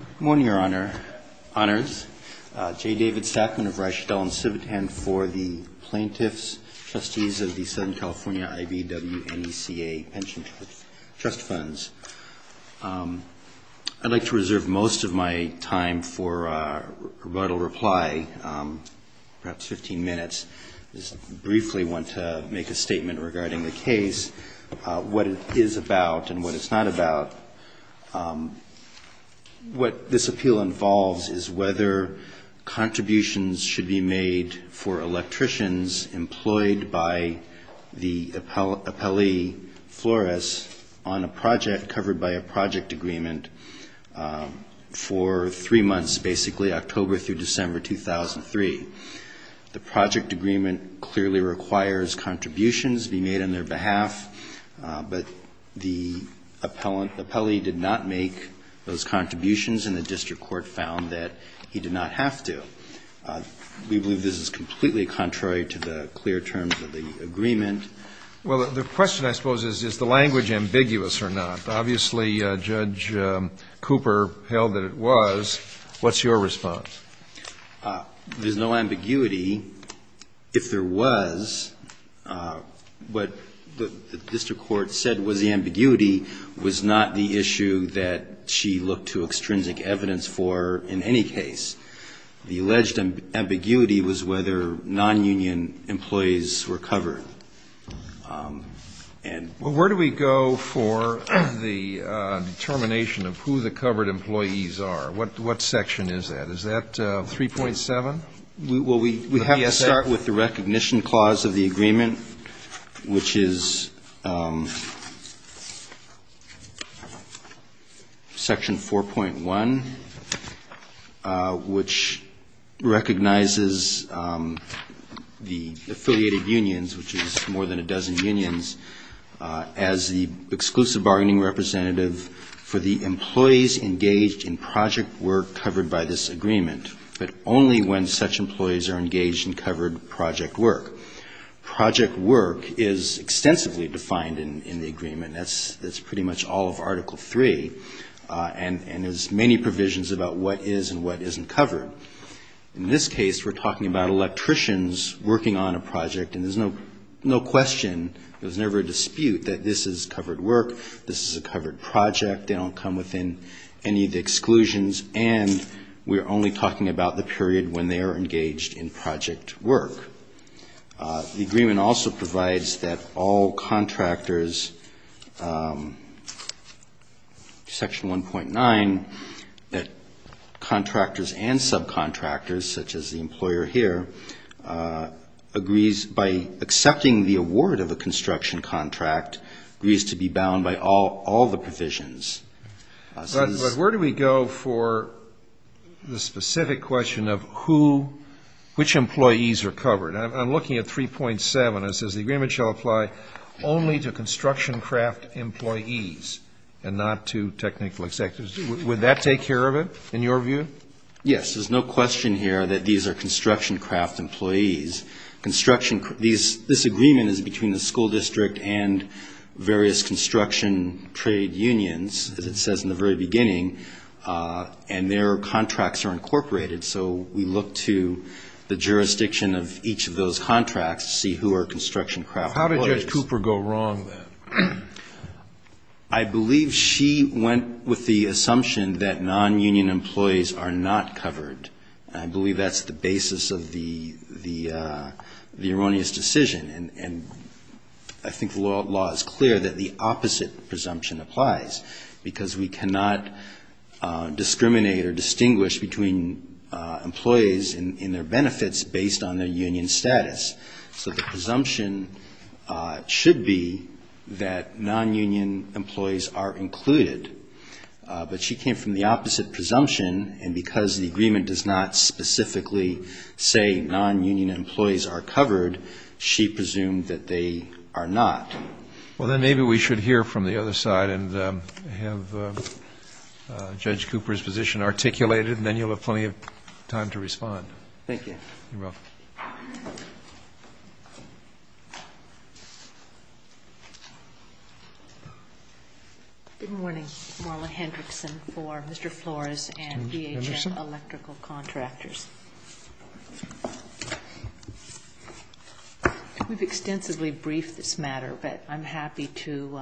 Good morning, Your Honor. Honors. J. David Stackman of Reich, Dell, and Civitan for the Plaintiffs, Trustees of the Southern California I.B.W.N.E.C.A. Pension Trust Funds. I'd like to reserve most of my time for a rebuttal reply, perhaps 15 minutes. I just briefly want to make a statement regarding the case, what it is about and what it's not about. What this appeal involves is whether contributions should be made for electricians employed by the appellee, Flores, on a project covered by a project agreement for three months, basically October through December 2003. The project agreement clearly requires contributions be made on their behalf, but the appellee did not make those contributions, and the district court found that he did not have to. We believe this is completely contrary to the clear terms of the agreement. Well, the question, I suppose, is, is the language ambiguous or not? Obviously, Judge Cooper held that it was. What's your response? There's no ambiguity. If there was, what the district court said was the ambiguity was not the issue that she looked to extrinsic evidence for in any case. The alleged ambiguity was whether nonunion employees were covered. Well, where do we go for the determination of who the covered employees are? What section is that? Is that 3.7? Well, we have to start with the recognition clause of the agreement, which is section 4.1, which recognizes the affiliated unions, which is more than a dozen unions, as the exclusive bargaining representative for the employees engaged in project work covered by this agreement, but only when such employees are engaged in covered project work. Project work is extensively defined in the agreement. That's pretty much all of Article III, and there's many provisions about what is and what isn't covered. In this case, we're talking about electricians working on a project, and there's no question, there's never a dispute that this is covered work, this is a covered project, they don't come within any of the exclusions, and we're only talking about the period when they are engaged in project work. The agreement also provides that all contractors, section 1.9, that contractors and subcontractors, such as the employer here, agrees by accepting the award of a construction contract, agrees to be bound by all the provisions. But where do we go for the specific question of who, which employees are covered? I'm looking at 3.7. It says the agreement shall apply only to construction craft employees and not to technical executives. Would that take care of it, in your view? Yes. There's no question here that these are construction craft employees. This agreement is between the school district and various construction trade unions, as it says in the very beginning, and their contracts are incorporated. So we look to the jurisdiction of each of those contracts to see who are construction craft employees. How did Judge Cooper go wrong, then? I believe she went with the assumption that non-union employees are not covered. I believe that's the basis of the erroneous decision. And I think the law is clear that the opposite presumption applies, because we cannot discriminate or distinguish between employees and their benefits based on their union status. So the presumption should be that non-union employees are included. But she came from the opposite presumption, and because the agreement does not specifically say non-union employees are covered, she presumed that they are not. Well, then maybe we should hear from the other side and have Judge Cooper's position articulated, and then you'll have plenty of time to respond. Thank you. You're welcome. Good morning. Marla Hendrickson for Mr. Flores and DHS Electrical Contractors. We've extensively briefed this matter, but I'm happy to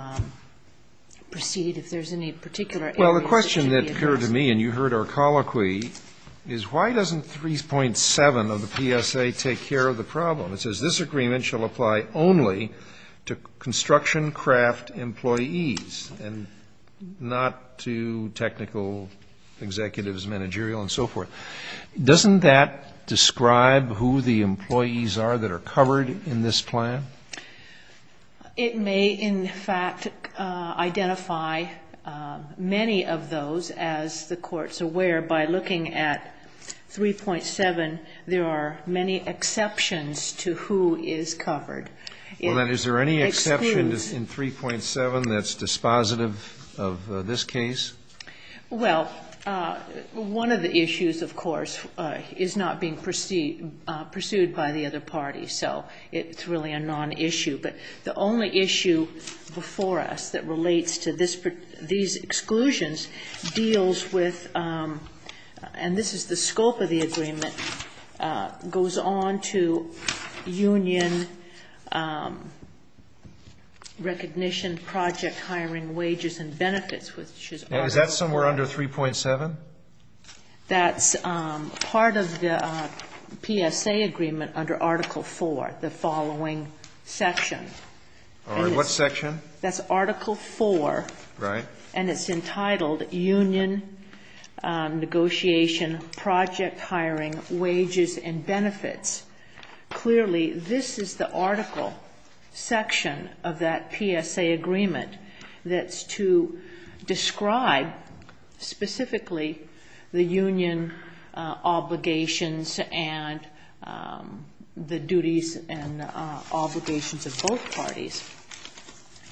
proceed if there's any particular areas that should be addressed. Well, the question that occurred to me, and you heard our colloquy, is why doesn't 3.7 of the PSA take care of the problem? It says this agreement shall apply only to construction craft employees and not to technical executives, managerial, and so forth. Doesn't that describe who the employees are that are covered in this plan? It may, in fact, identify many of those. As the Court's aware, by looking at 3.7, there are many exceptions to who is covered. Well, then, is there any exception in 3.7 that's dispositive of this case? Well, one of the issues, of course, is not being pursued by the other parties. So it's really a non-issue. But the only issue before us that relates to these exclusions deals with, and this is the scope of the agreement, goes on to union recognition, project hiring, wages, and benefits, which is part of it. Is that somewhere under 3.7? That's part of the PSA agreement under Article IV, the following section. All right. What section? That's Article IV. Right. And it's entitled union negotiation, project hiring, wages, and benefits. Clearly, this is the article section of that PSA agreement that's to describe, specifically, the union obligations and the duties and obligations of both parties.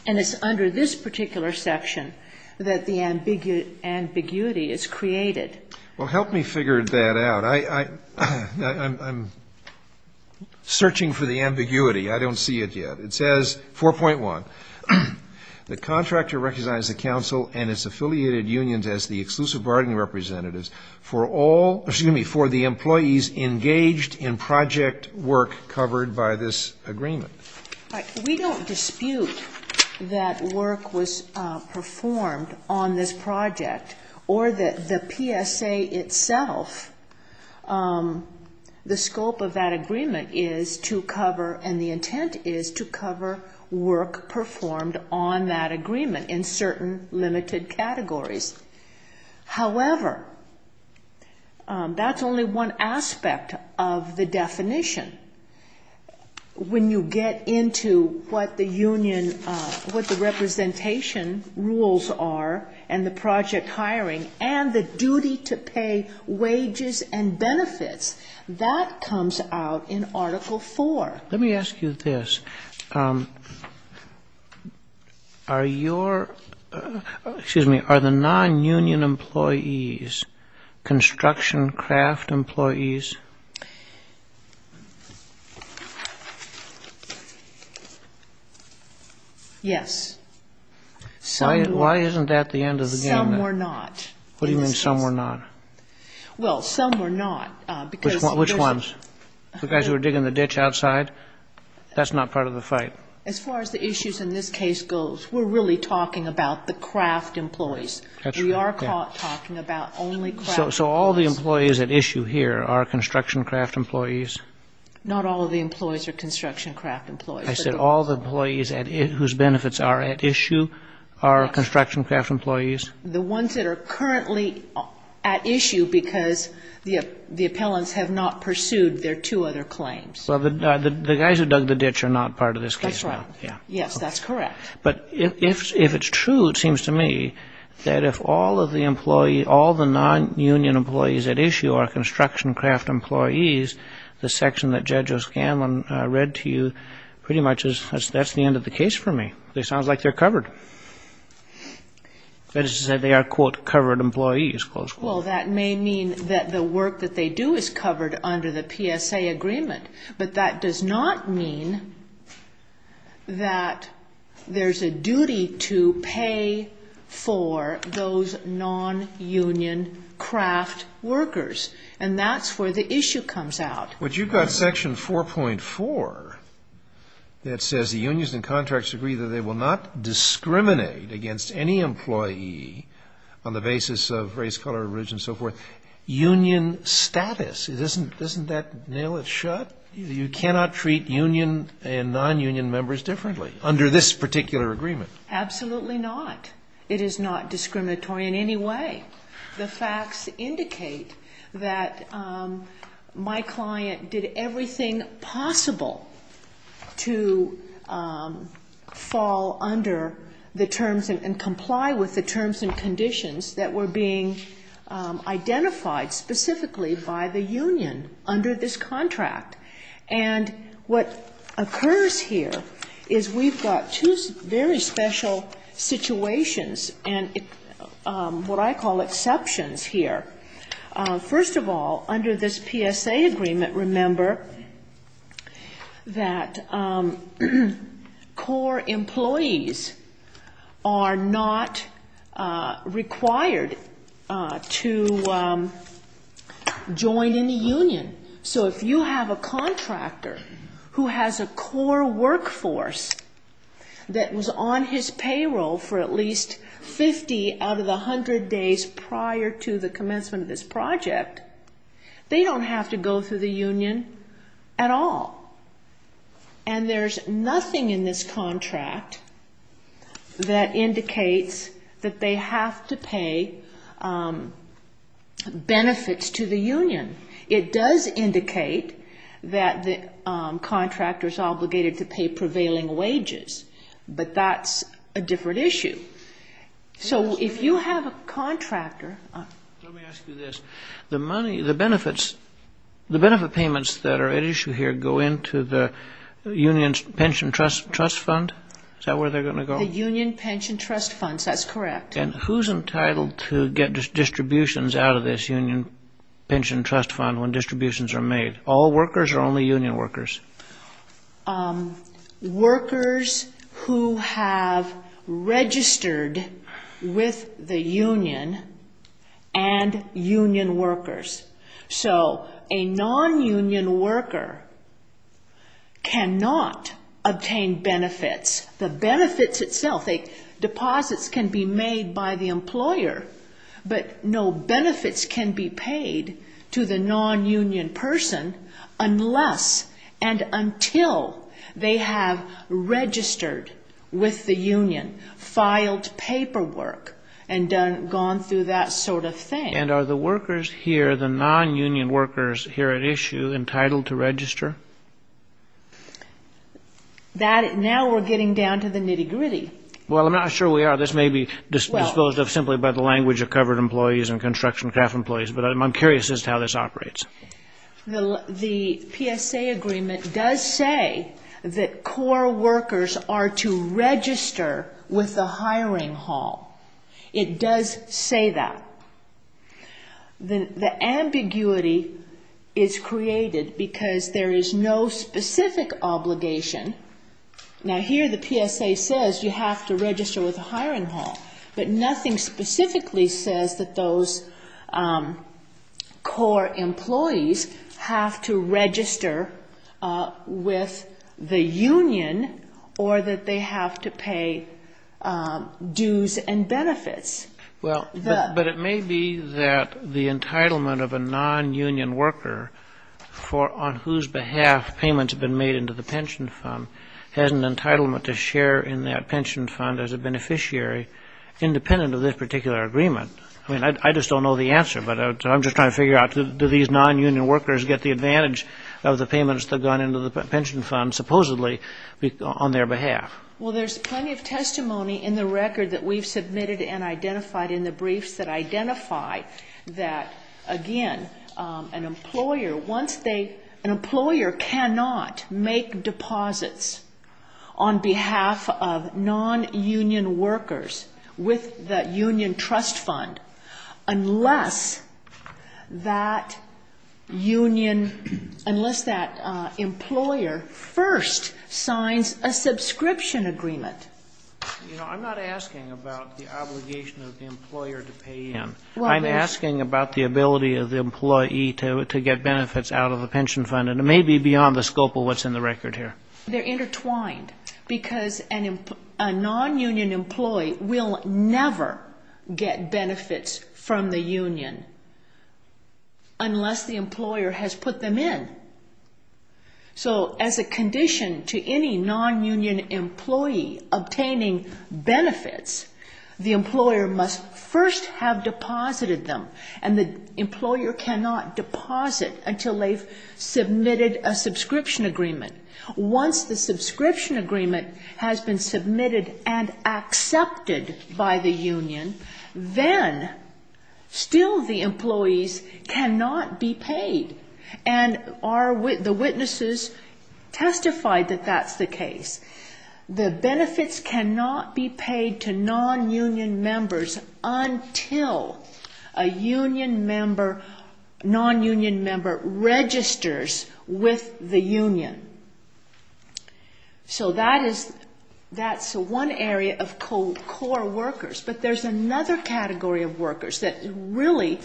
And it's under this particular section that the ambiguity is created. Well, help me figure that out. I'm searching for the ambiguity. I don't see it yet. It says, 4.1, the contractor recognizes the council and its affiliated unions as the exclusive bargaining representatives for the employees engaged in project work covered by this agreement. All right. We don't dispute that work was performed on this project or the PSA itself. The scope of that agreement is to cover, and the intent is to cover, work performed on that agreement in certain limited categories. However, that's only one aspect of the definition. When you get into what the union, what the representation rules are and the project hiring and the duty to pay wages and benefits, that comes out in Article IV. Let me ask you this. Are your, excuse me, are the non-union employees construction craft employees? Yes. Why isn't that the end of the game? Some were not. What do you mean some were not? Well, some were not. Which ones? The guys who were digging the ditch outside? That's not part of the fight. As far as the issues in this case goes, we're really talking about the craft employees. That's right. We are talking about only craft employees. So all the employees at issue here are construction craft employees? Not all of the employees are construction craft employees. I said all the employees whose benefits are at issue are construction craft employees. The ones that are currently at issue because the appellants have not pursued their two other claims. Well, the guys who dug the ditch are not part of this case. That's right. Yes, that's correct. But if it's true, it seems to me that if all of the employees, all the non-union employees at issue are construction craft employees, the section that Judge O'Scanlan read to you pretty much is, that's the end of the case for me. It sounds like they're covered. That is to say they are, quote, covered employees, close quote. Well, that may mean that the work that they do is covered under the PSA agreement, but that does not mean that there's a duty to pay for those non-union craft workers, and that's where the issue comes out. But you've got Section 4.4 that says the unions and contracts agree that they will not discriminate against any employee on the basis of race, color, religion, and so forth. Union status, doesn't that nail it shut? You cannot treat union and non-union members differently under this particular agreement. Absolutely not. It is not discriminatory in any way. The facts indicate that my client did everything possible to fall under the terms and comply with the terms and conditions that were being identified specifically by the union under this contract. And what occurs here is we've got two very special situations, and what I call exceptions here. First of all, under this PSA agreement, remember that core employees are not required to join in the union. So if you have a contractor who has a core workforce that was on his payroll for at least 50 out of the 100 days prior to the commencement of this project, they don't have to go through the union at all. And there's nothing in this contract that indicates that they have to pay benefits to the union. It does indicate that the contractor is obligated to pay prevailing wages, but that's a different issue. So if you have a contractor... Let me ask you this. The money, the benefits, the benefit payments that are at issue here go into the union's pension trust fund? Is that where they're going to go? The union pension trust funds, that's correct. And who's entitled to get distributions out of this union pension trust fund when distributions are made? All workers or only union workers? Workers who have registered with the union and union workers. So a non-union worker cannot obtain benefits. The benefits itself, deposits can be made by the employer, but no benefits can be paid to the non-union person unless and until they have registered with the union, filed paperwork, and gone through that sort of thing. And are the workers here, the non-union workers here at issue, entitled to register? Now we're getting down to the nitty-gritty. Well, I'm not sure we are. This may be disposed of simply by the language of covered employees and construction staff employees, but I'm curious as to how this operates. The PSA agreement does say that core workers are to register with the hiring hall. It does say that. The ambiguity is created because there is no specific obligation. Now here the PSA says you have to register with the hiring hall, but nothing specifically says that those core employees have to register with the union or that they have to pay dues and benefits. But it may be that the entitlement of a non-union worker on whose behalf payments have been made into the pension fund has an entitlement to share in that pension fund as a beneficiary independent of this particular agreement. I mean, I just don't know the answer, but I'm just trying to figure out do these non-union workers get the advantage of the payments that have gone into the pension fund supposedly on their behalf? Well, there's plenty of testimony in the record that we've submitted and identified in the briefs that identify that, again, an employer cannot make deposits on behalf of non-union workers with the union trust fund unless that union, unless that employer first signs a subscription agreement. You know, I'm not asking about the obligation of the employer to pay in. I'm asking about the ability of the employee to get benefits out of the pension fund, and it may be beyond the scope of what's in the record here. They're intertwined because a non-union employee will never get benefits from the union unless the employer has put them in. So as a condition to any non-union employee obtaining benefits, the employer must first have deposited them, and the employer cannot deposit until they've submitted a subscription agreement. Once the subscription agreement has been submitted and accepted by the union, then still the employees cannot be paid. And the witnesses testified that that's the case. The benefits cannot be paid to non-union members until a non-union member registers with the union. So that's one area of core workers, but there's another category of workers that really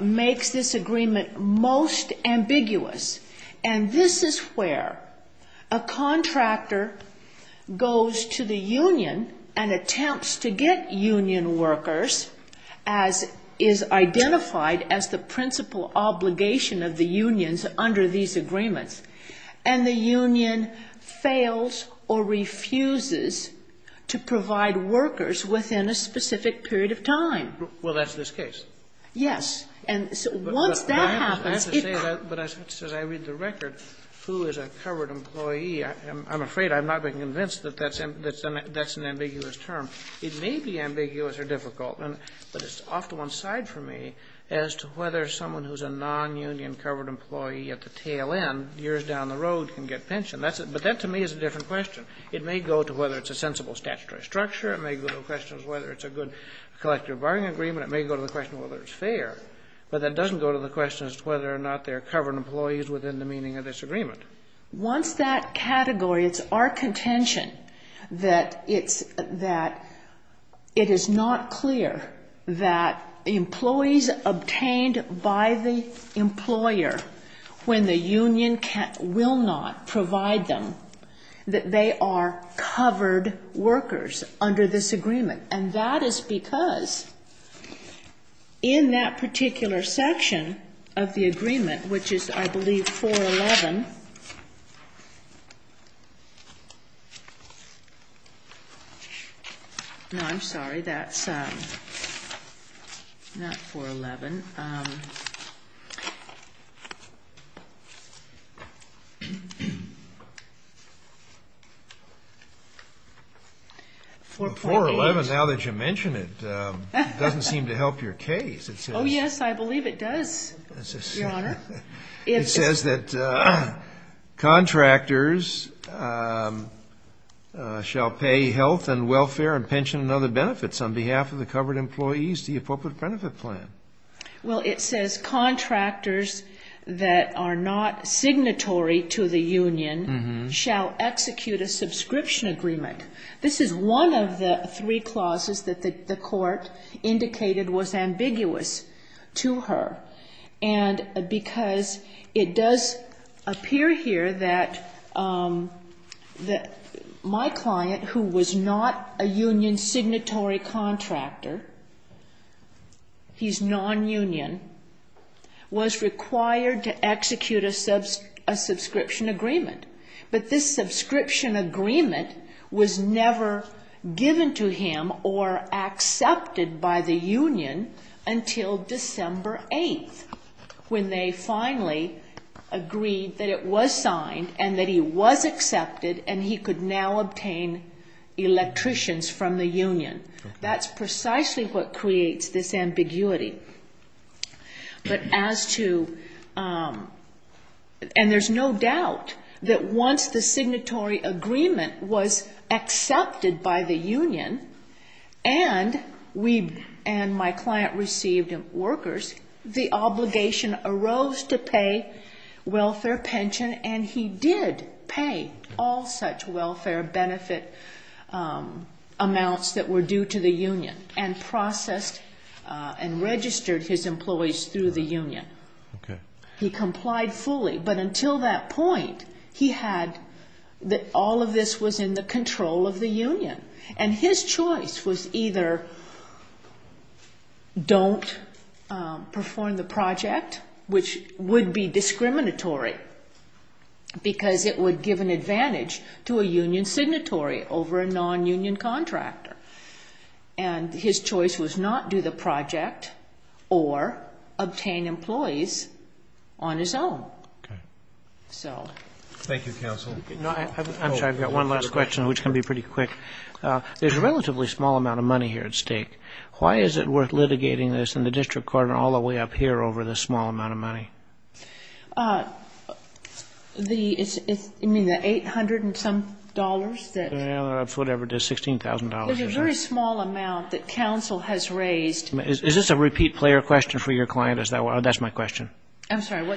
makes this agreement most ambiguous, and this is where a contractor goes to the union and attempts to get union workers, as is identified as the principal obligation of the unions under these agreements, and the union fails or refuses to provide workers within a specific period of time. Well, that's this case. Yes. And once that happens, it could be. But as I read the record, who is a covered employee, I'm afraid I'm not being convinced that that's an ambiguous term. It may be ambiguous or difficult, but it's off to one side for me as to whether someone who's a non-union covered employee at the tail end, years down the road, can get pension. But that to me is a different question. It may go to whether it's a sensible statutory structure. It may go to the question of whether it's a good collective bargaining agreement. It may go to the question of whether it's fair. But that doesn't go to the question as to whether or not they're covered employees within the meaning of this agreement. Once that category, it's our contention that it is not clear that employees obtained by the employer when the union will not provide them, that they are covered workers under this agreement. And that is because in that particular section of the agreement, which is I believe 411. No, I'm sorry. That's not 411. 411. 411, now that you mention it, doesn't seem to help your case. Oh, yes, I believe it does, Your Honor. It says that contractors shall pay health and welfare and pension and other benefits on behalf of the covered employees to the appropriate benefit plan. Well, it says contractors that are not signatory to the union shall execute a subscription agreement. This is one of the three clauses that the court indicated was ambiguous to her. And because it does appear here that my client, who was not a union signatory contractor, he's non-union, was required to execute a subscription agreement. But this subscription agreement was never given to him or accepted by the union until December 8th, when they finally agreed that it was signed and that he was accepted and he could now obtain electricians from the union. But as to and there's no doubt that once the signatory agreement was accepted by the union and we and my client received workers, the obligation arose to pay welfare pension and he did pay all such welfare benefit amounts that were due to the union and processed and registered his employees through the union. He complied fully. But until that point, he had all of this was in the control of the union. And his choice was either don't perform the project, which would be discriminatory, because it would give an advantage to a union signatory over a non-union contractor. And his choice was not do the project or obtain employees on his own. Okay. So. Thank you, counsel. I'm sorry. I've got one last question, which can be pretty quick. There's a relatively small amount of money here at stake. Why is it worth litigating this in the district court and all the way up here over this small amount of money? The 800 and some dollars that. That's whatever it is, $16,000. There's a very small amount that counsel has raised. Is this a repeat player question for your client? That's my question. I'm sorry.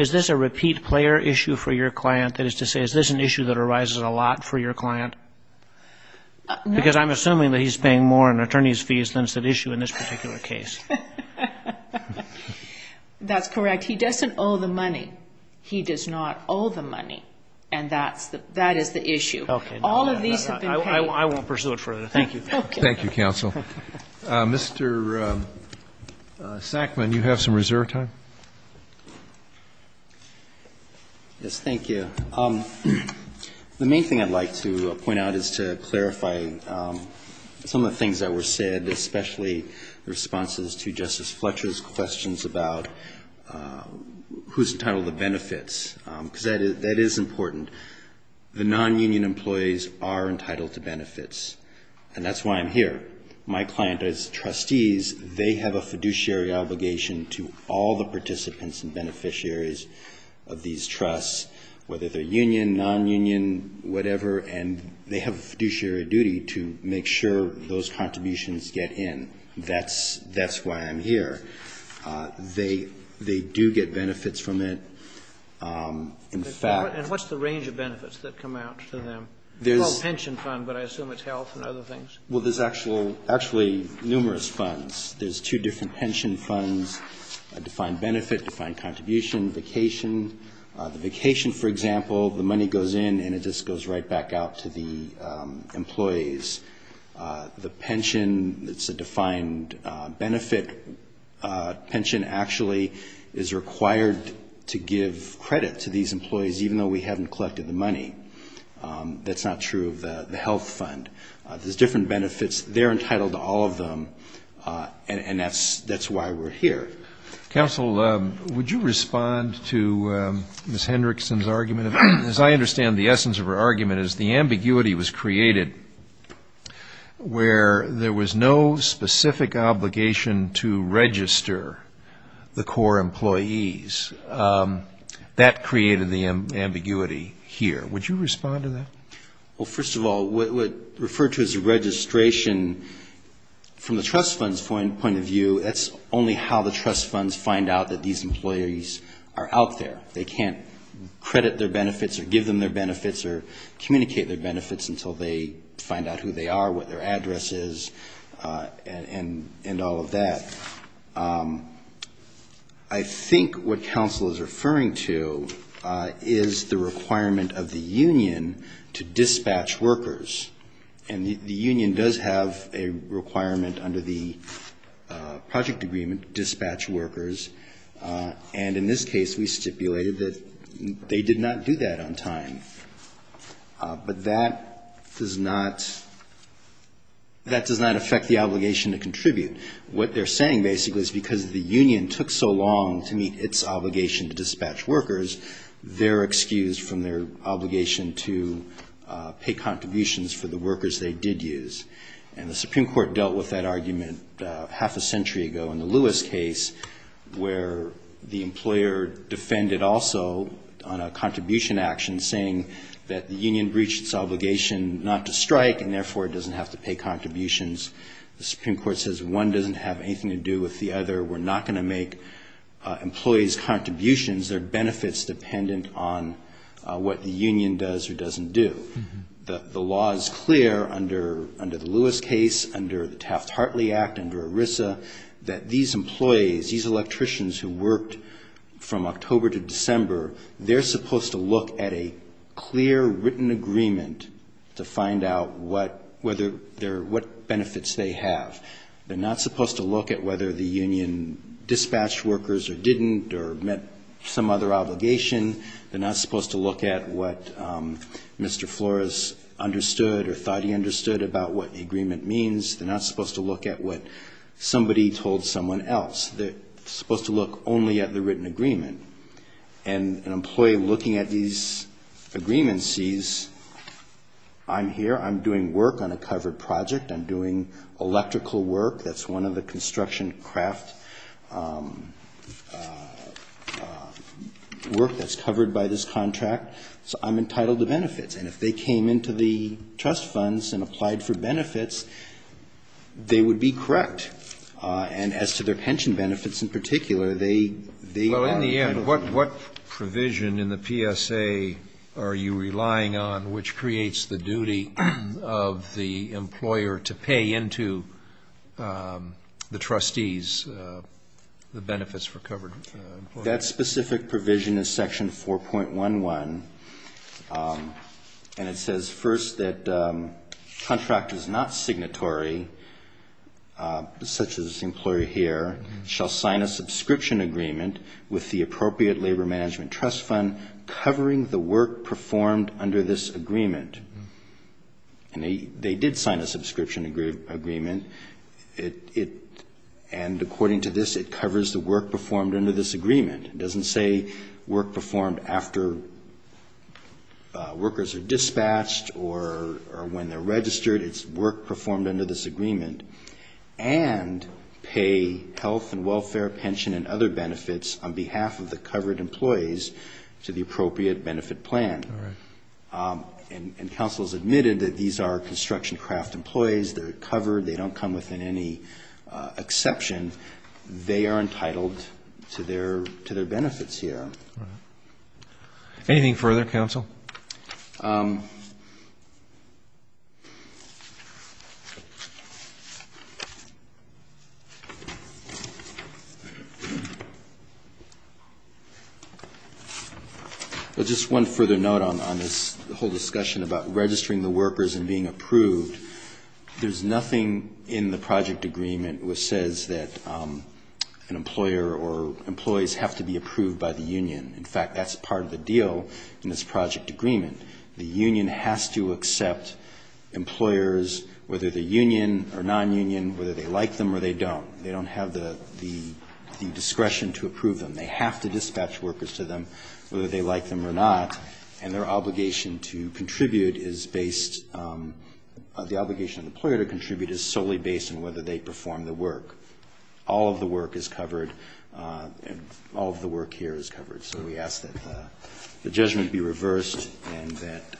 Is this a repeat player issue for your client? That is to say, is this an issue that arises a lot for your client? Because I'm assuming that he's paying more in attorney's fees than is at issue in this particular case. That's correct. If he doesn't owe the money, he does not owe the money. And that is the issue. Okay. All of these have been paid. I won't pursue it further. Thank you. Okay. Thank you, counsel. Mr. Sackman, you have some reserve time. Yes, thank you. The main thing I'd like to point out is to clarify some of the things that were said, especially the responses to Justice Fletcher's questions about who's entitled to benefits, because that is important. The non-union employees are entitled to benefits, and that's why I'm here. My client is trustees. They have a fiduciary obligation to all the participants and beneficiaries of these trusts, whether they're union, non-union, whatever, and they have a fiduciary duty to make sure those contributions get in. That's why I'm here. They do get benefits from it. In fact they do. And what's the range of benefits that come out to them? There's a pension fund, but I assume it's health and other things. Well, there's actually numerous funds. There's two different pension funds, a defined benefit, defined contribution, vacation. The vacation, for example, the money goes in and it just goes right back out to the employees. The pension, it's a defined benefit. Pension actually is required to give credit to these employees, even though we haven't collected the money. That's not true of the health fund. There's different benefits. They're entitled to all of them, and that's why we're here. Counsel, would you respond to Ms. Hendrickson's argument? As I understand the essence of her argument is the ambiguity was created where there was no specific obligation to register the core employees. That created the ambiguity here. Would you respond to that? Well, first of all, what referred to as registration from the trust fund's point of view, that's only how the trust funds find out that these employees are out there. They can't credit their benefits or give them their benefits or communicate their benefits until they find out who they are, what their address is, and all of that. I think what counsel is referring to is the requirement of the union to dispatch workers. And the union does have a requirement under the project agreement to dispatch workers, and in this case we stipulated that they did not do that on time. But that does not affect the obligation to contribute. What they're saying basically is because the union took so long to meet its obligation to dispatch workers, they're excused from their obligation to pay contributions for the workers they did use. And the Supreme Court dealt with that argument half a century ago in the Lewis case, where the employer defended also on a contribution action, saying that the union breached its obligation not to strike, and therefore it doesn't have to pay contributions. The Supreme Court says one doesn't have anything to do with the other. We're not going to make employees' contributions or benefits dependent on what the union does or doesn't do. The law is clear under the Lewis case, under the Taft-Hartley Act, under ERISA, that these employees, these electricians who worked from October to December, they're supposed to look at a clear, written agreement to find out what benefits they have. They're not supposed to look at whether the union dispatched workers or didn't or met some other obligation. They're not supposed to look at what Mr. Flores understood or thought he understood about what the agreement means. They're not supposed to look at what somebody told someone else. They're supposed to look only at the written agreement. And an employee looking at these agreements sees I'm here, I'm doing work on a covered project, I'm doing electrical work that's one of the construction craft work that's covered by this contract, so I'm entitled to benefits. And if they came into the trust funds and applied for benefits, they would be correct. And as to their pension benefits in particular, they are. Well, in the end, what provision in the PSA are you relying on, which creates the duty of the employer to pay into the trustees the benefits for covered employees? That specific provision is Section 4.11, and it says first that contract is not signatory. Such as the employer here shall sign a subscription agreement with the appropriate labor management trust fund covering the work performed under this agreement. And they did sign a subscription agreement, and according to this, it covers the work performed under this agreement. It doesn't say work performed after workers are dispatched or when they're registered. It's work performed under this agreement. And pay health and welfare, pension, and other benefits on behalf of the covered employees to the appropriate benefit plan. All right. And counsel has admitted that these are construction craft employees. They're covered. They don't come within any exception. They are entitled to their benefits here. Anything further, counsel? Just one further note on this whole discussion about registering the workers and being approved. There's nothing in the project agreement which says that an employer or employees have to be approved by the union. In fact, that's part of the deal in this project agreement. The union has to accept employers, whether they're union or nonunion, whether they like them or they don't. They don't have the discretion to approve them. They have to dispatch workers to them, whether they like them or not. And their obligation to contribute is based, the obligation of the employer to contribute is solely based on whether they perform the work. All of the work is covered. All of the work here is covered. So we ask that the judgment be reversed and that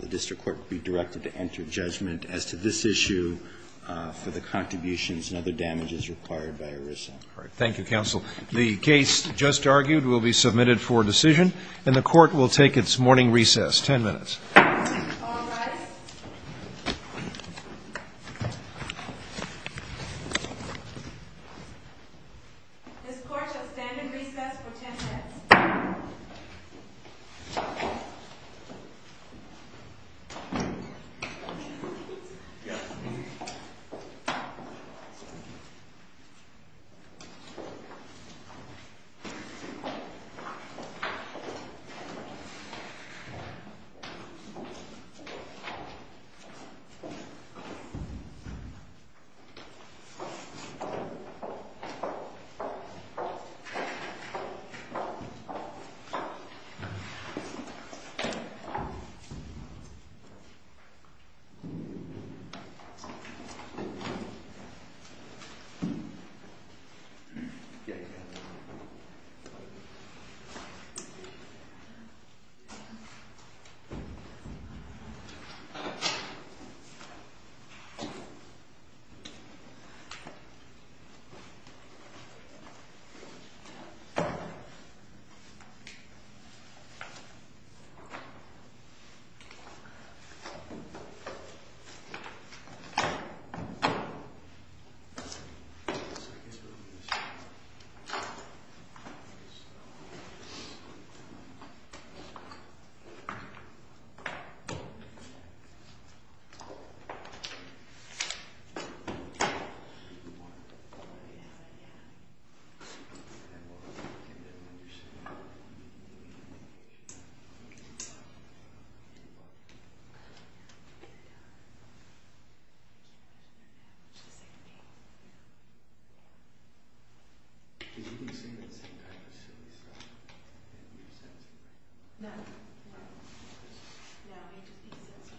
the district court be directed to enter judgment as to this issue for the contributions and other damages required by ERISA. All right. Thank you, counsel. The case just argued will be submitted for decision, and the Court will take its morning recess. Ten minutes. All rise. This Court shall stand in recess for ten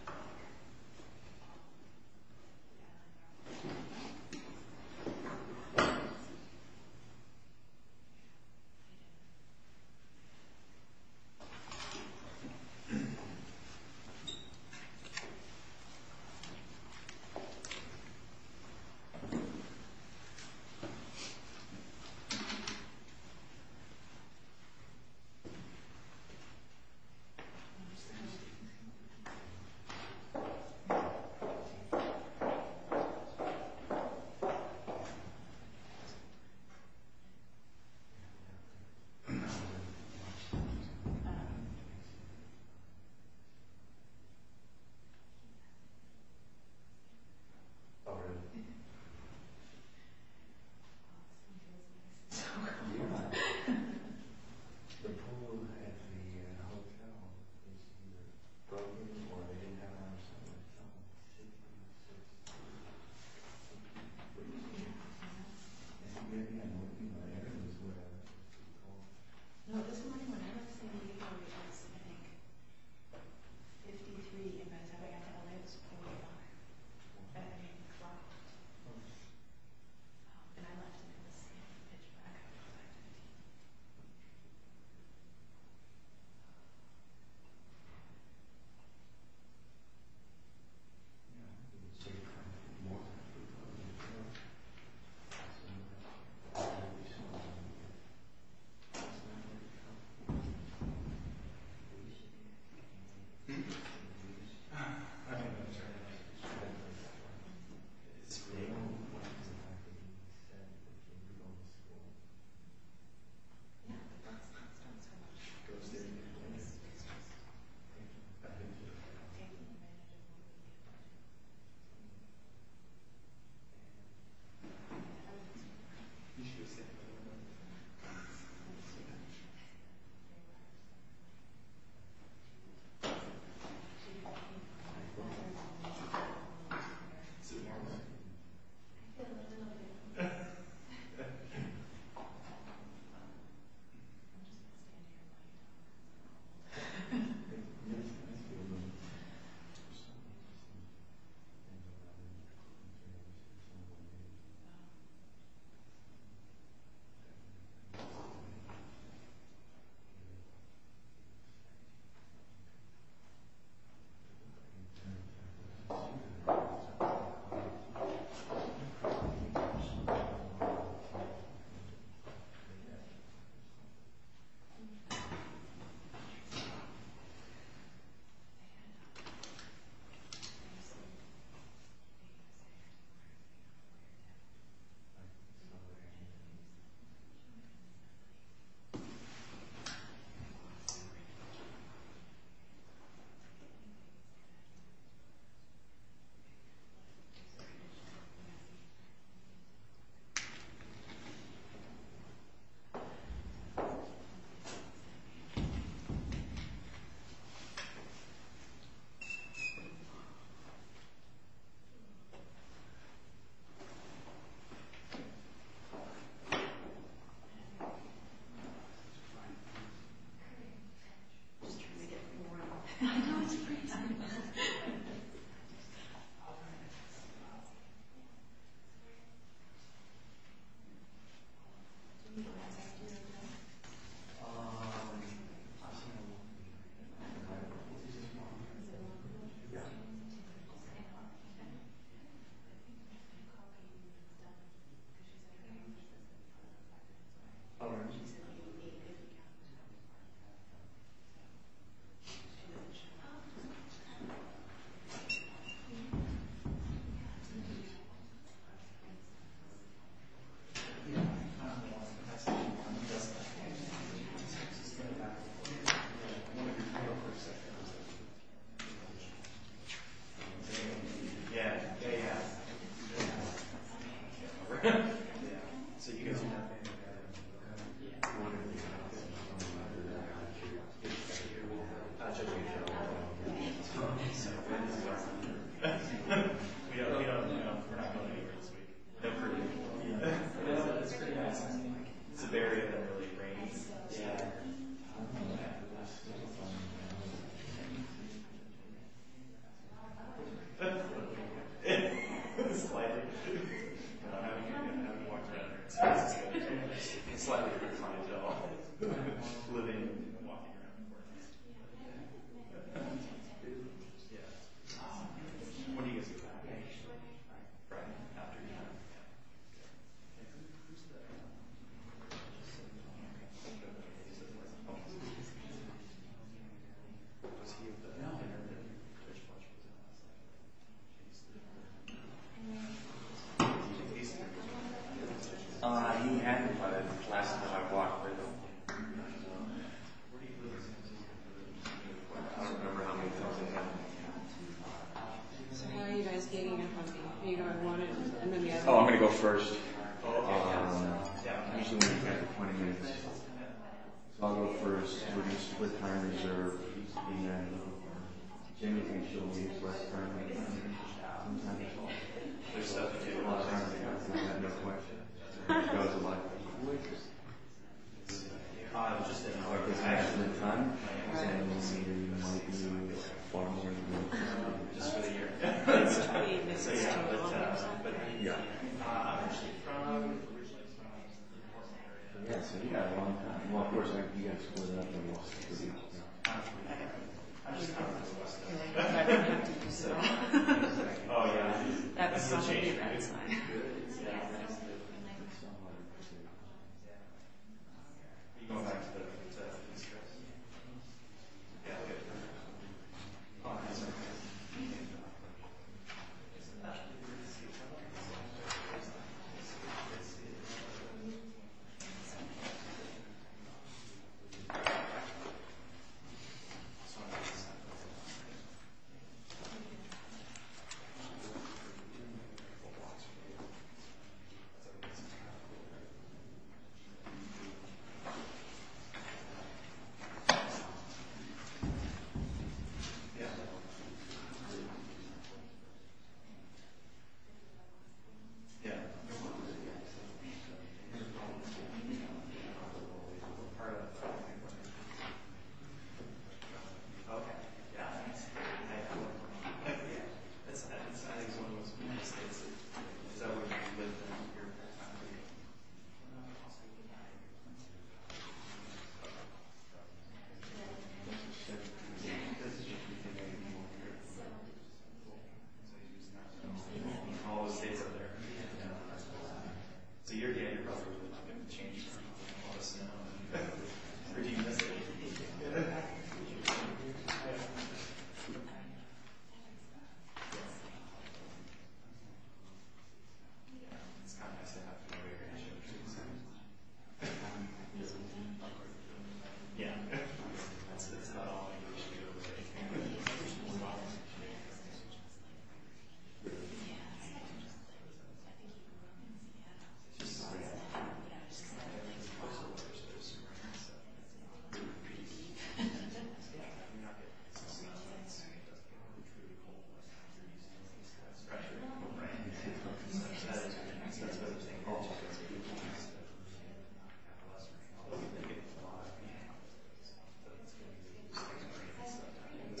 minutes. Ten minutes. Ten minutes. Ten minutes. Ten minutes. The pool at the hotel is either broken or they didn't have enough sunlight to help with the shaking. And maybe I'm working on ERISA's web. No, this morning when I was standing here, it was, I think, 53 in my town. I got to LA, it was 41. And I think it dropped. And I left it in the same pitch black.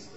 All right. Last one's gone. Go upstairs. Yes, please. Thank you. Okay. Is it warm in here? No, not really. I'm just going to stand here and let you know. Okay. Okay. I'm just trying to get more out. I know, it's crazy. Do you want to take this? Uh, yeah. I'll see if I can find a position for it. Is it warm in here? Yeah. Okay. All right. Okay. Yeah. Yeah, yeah. Okay. All right. So you guys are there. Yeah. That's good. That's very… It's slightly… It's slightly… Living and walking around. When do you guys get back? Friday. Friday afternoon? Yeah. Who's that? Was he at the dinner? No. So how are you guys getting in front of the… You don't want to… Oh, I'm going to go first. I'll go first. We're just… With time reserved. And then… Jimmy thinks he'll leave less time than I do. Sometimes it's all… There's stuff to do. A lot of time to do. I have no question. That was a lot to do. Who were you just… I was just thinking… Like, there's actually a ton. Right. And we'll need it. It might be… Far more than we'll need it. Just for the year. That's true. That's true. Yeah. Oh, yeah. That's a change. That's fine. Yeah. Okay. Yeah. I think it's one of those… So… All the states are there. So yeah, you're probably going to change a lot of snow. Or do you miss it? It's kind of nice to have familiar issues. Yeah. It's not all English jokes. There's more to it. Really? Yeah. It's pretty deep. Yeah. You're not going to miss it. It's really cool. It's fresher. Right? Yeah. That's what I was thinking. I'll check it out. Is this your first time out here? This is where I was. Yeah. Oh, okay. Yeah, we'll do Portland. Plus Seattle. Yeah. This is Seattle. All this fire… June… Where are you? Here. You're going to want to see our Heads Up camp before it's over. Right. Yeah. I don't know where he is. Because I told him to, as a courtesy. I didn't warn him. I'm just going to turn it into a vacation. But, um… Not necessary. All rise. This court shall resume session.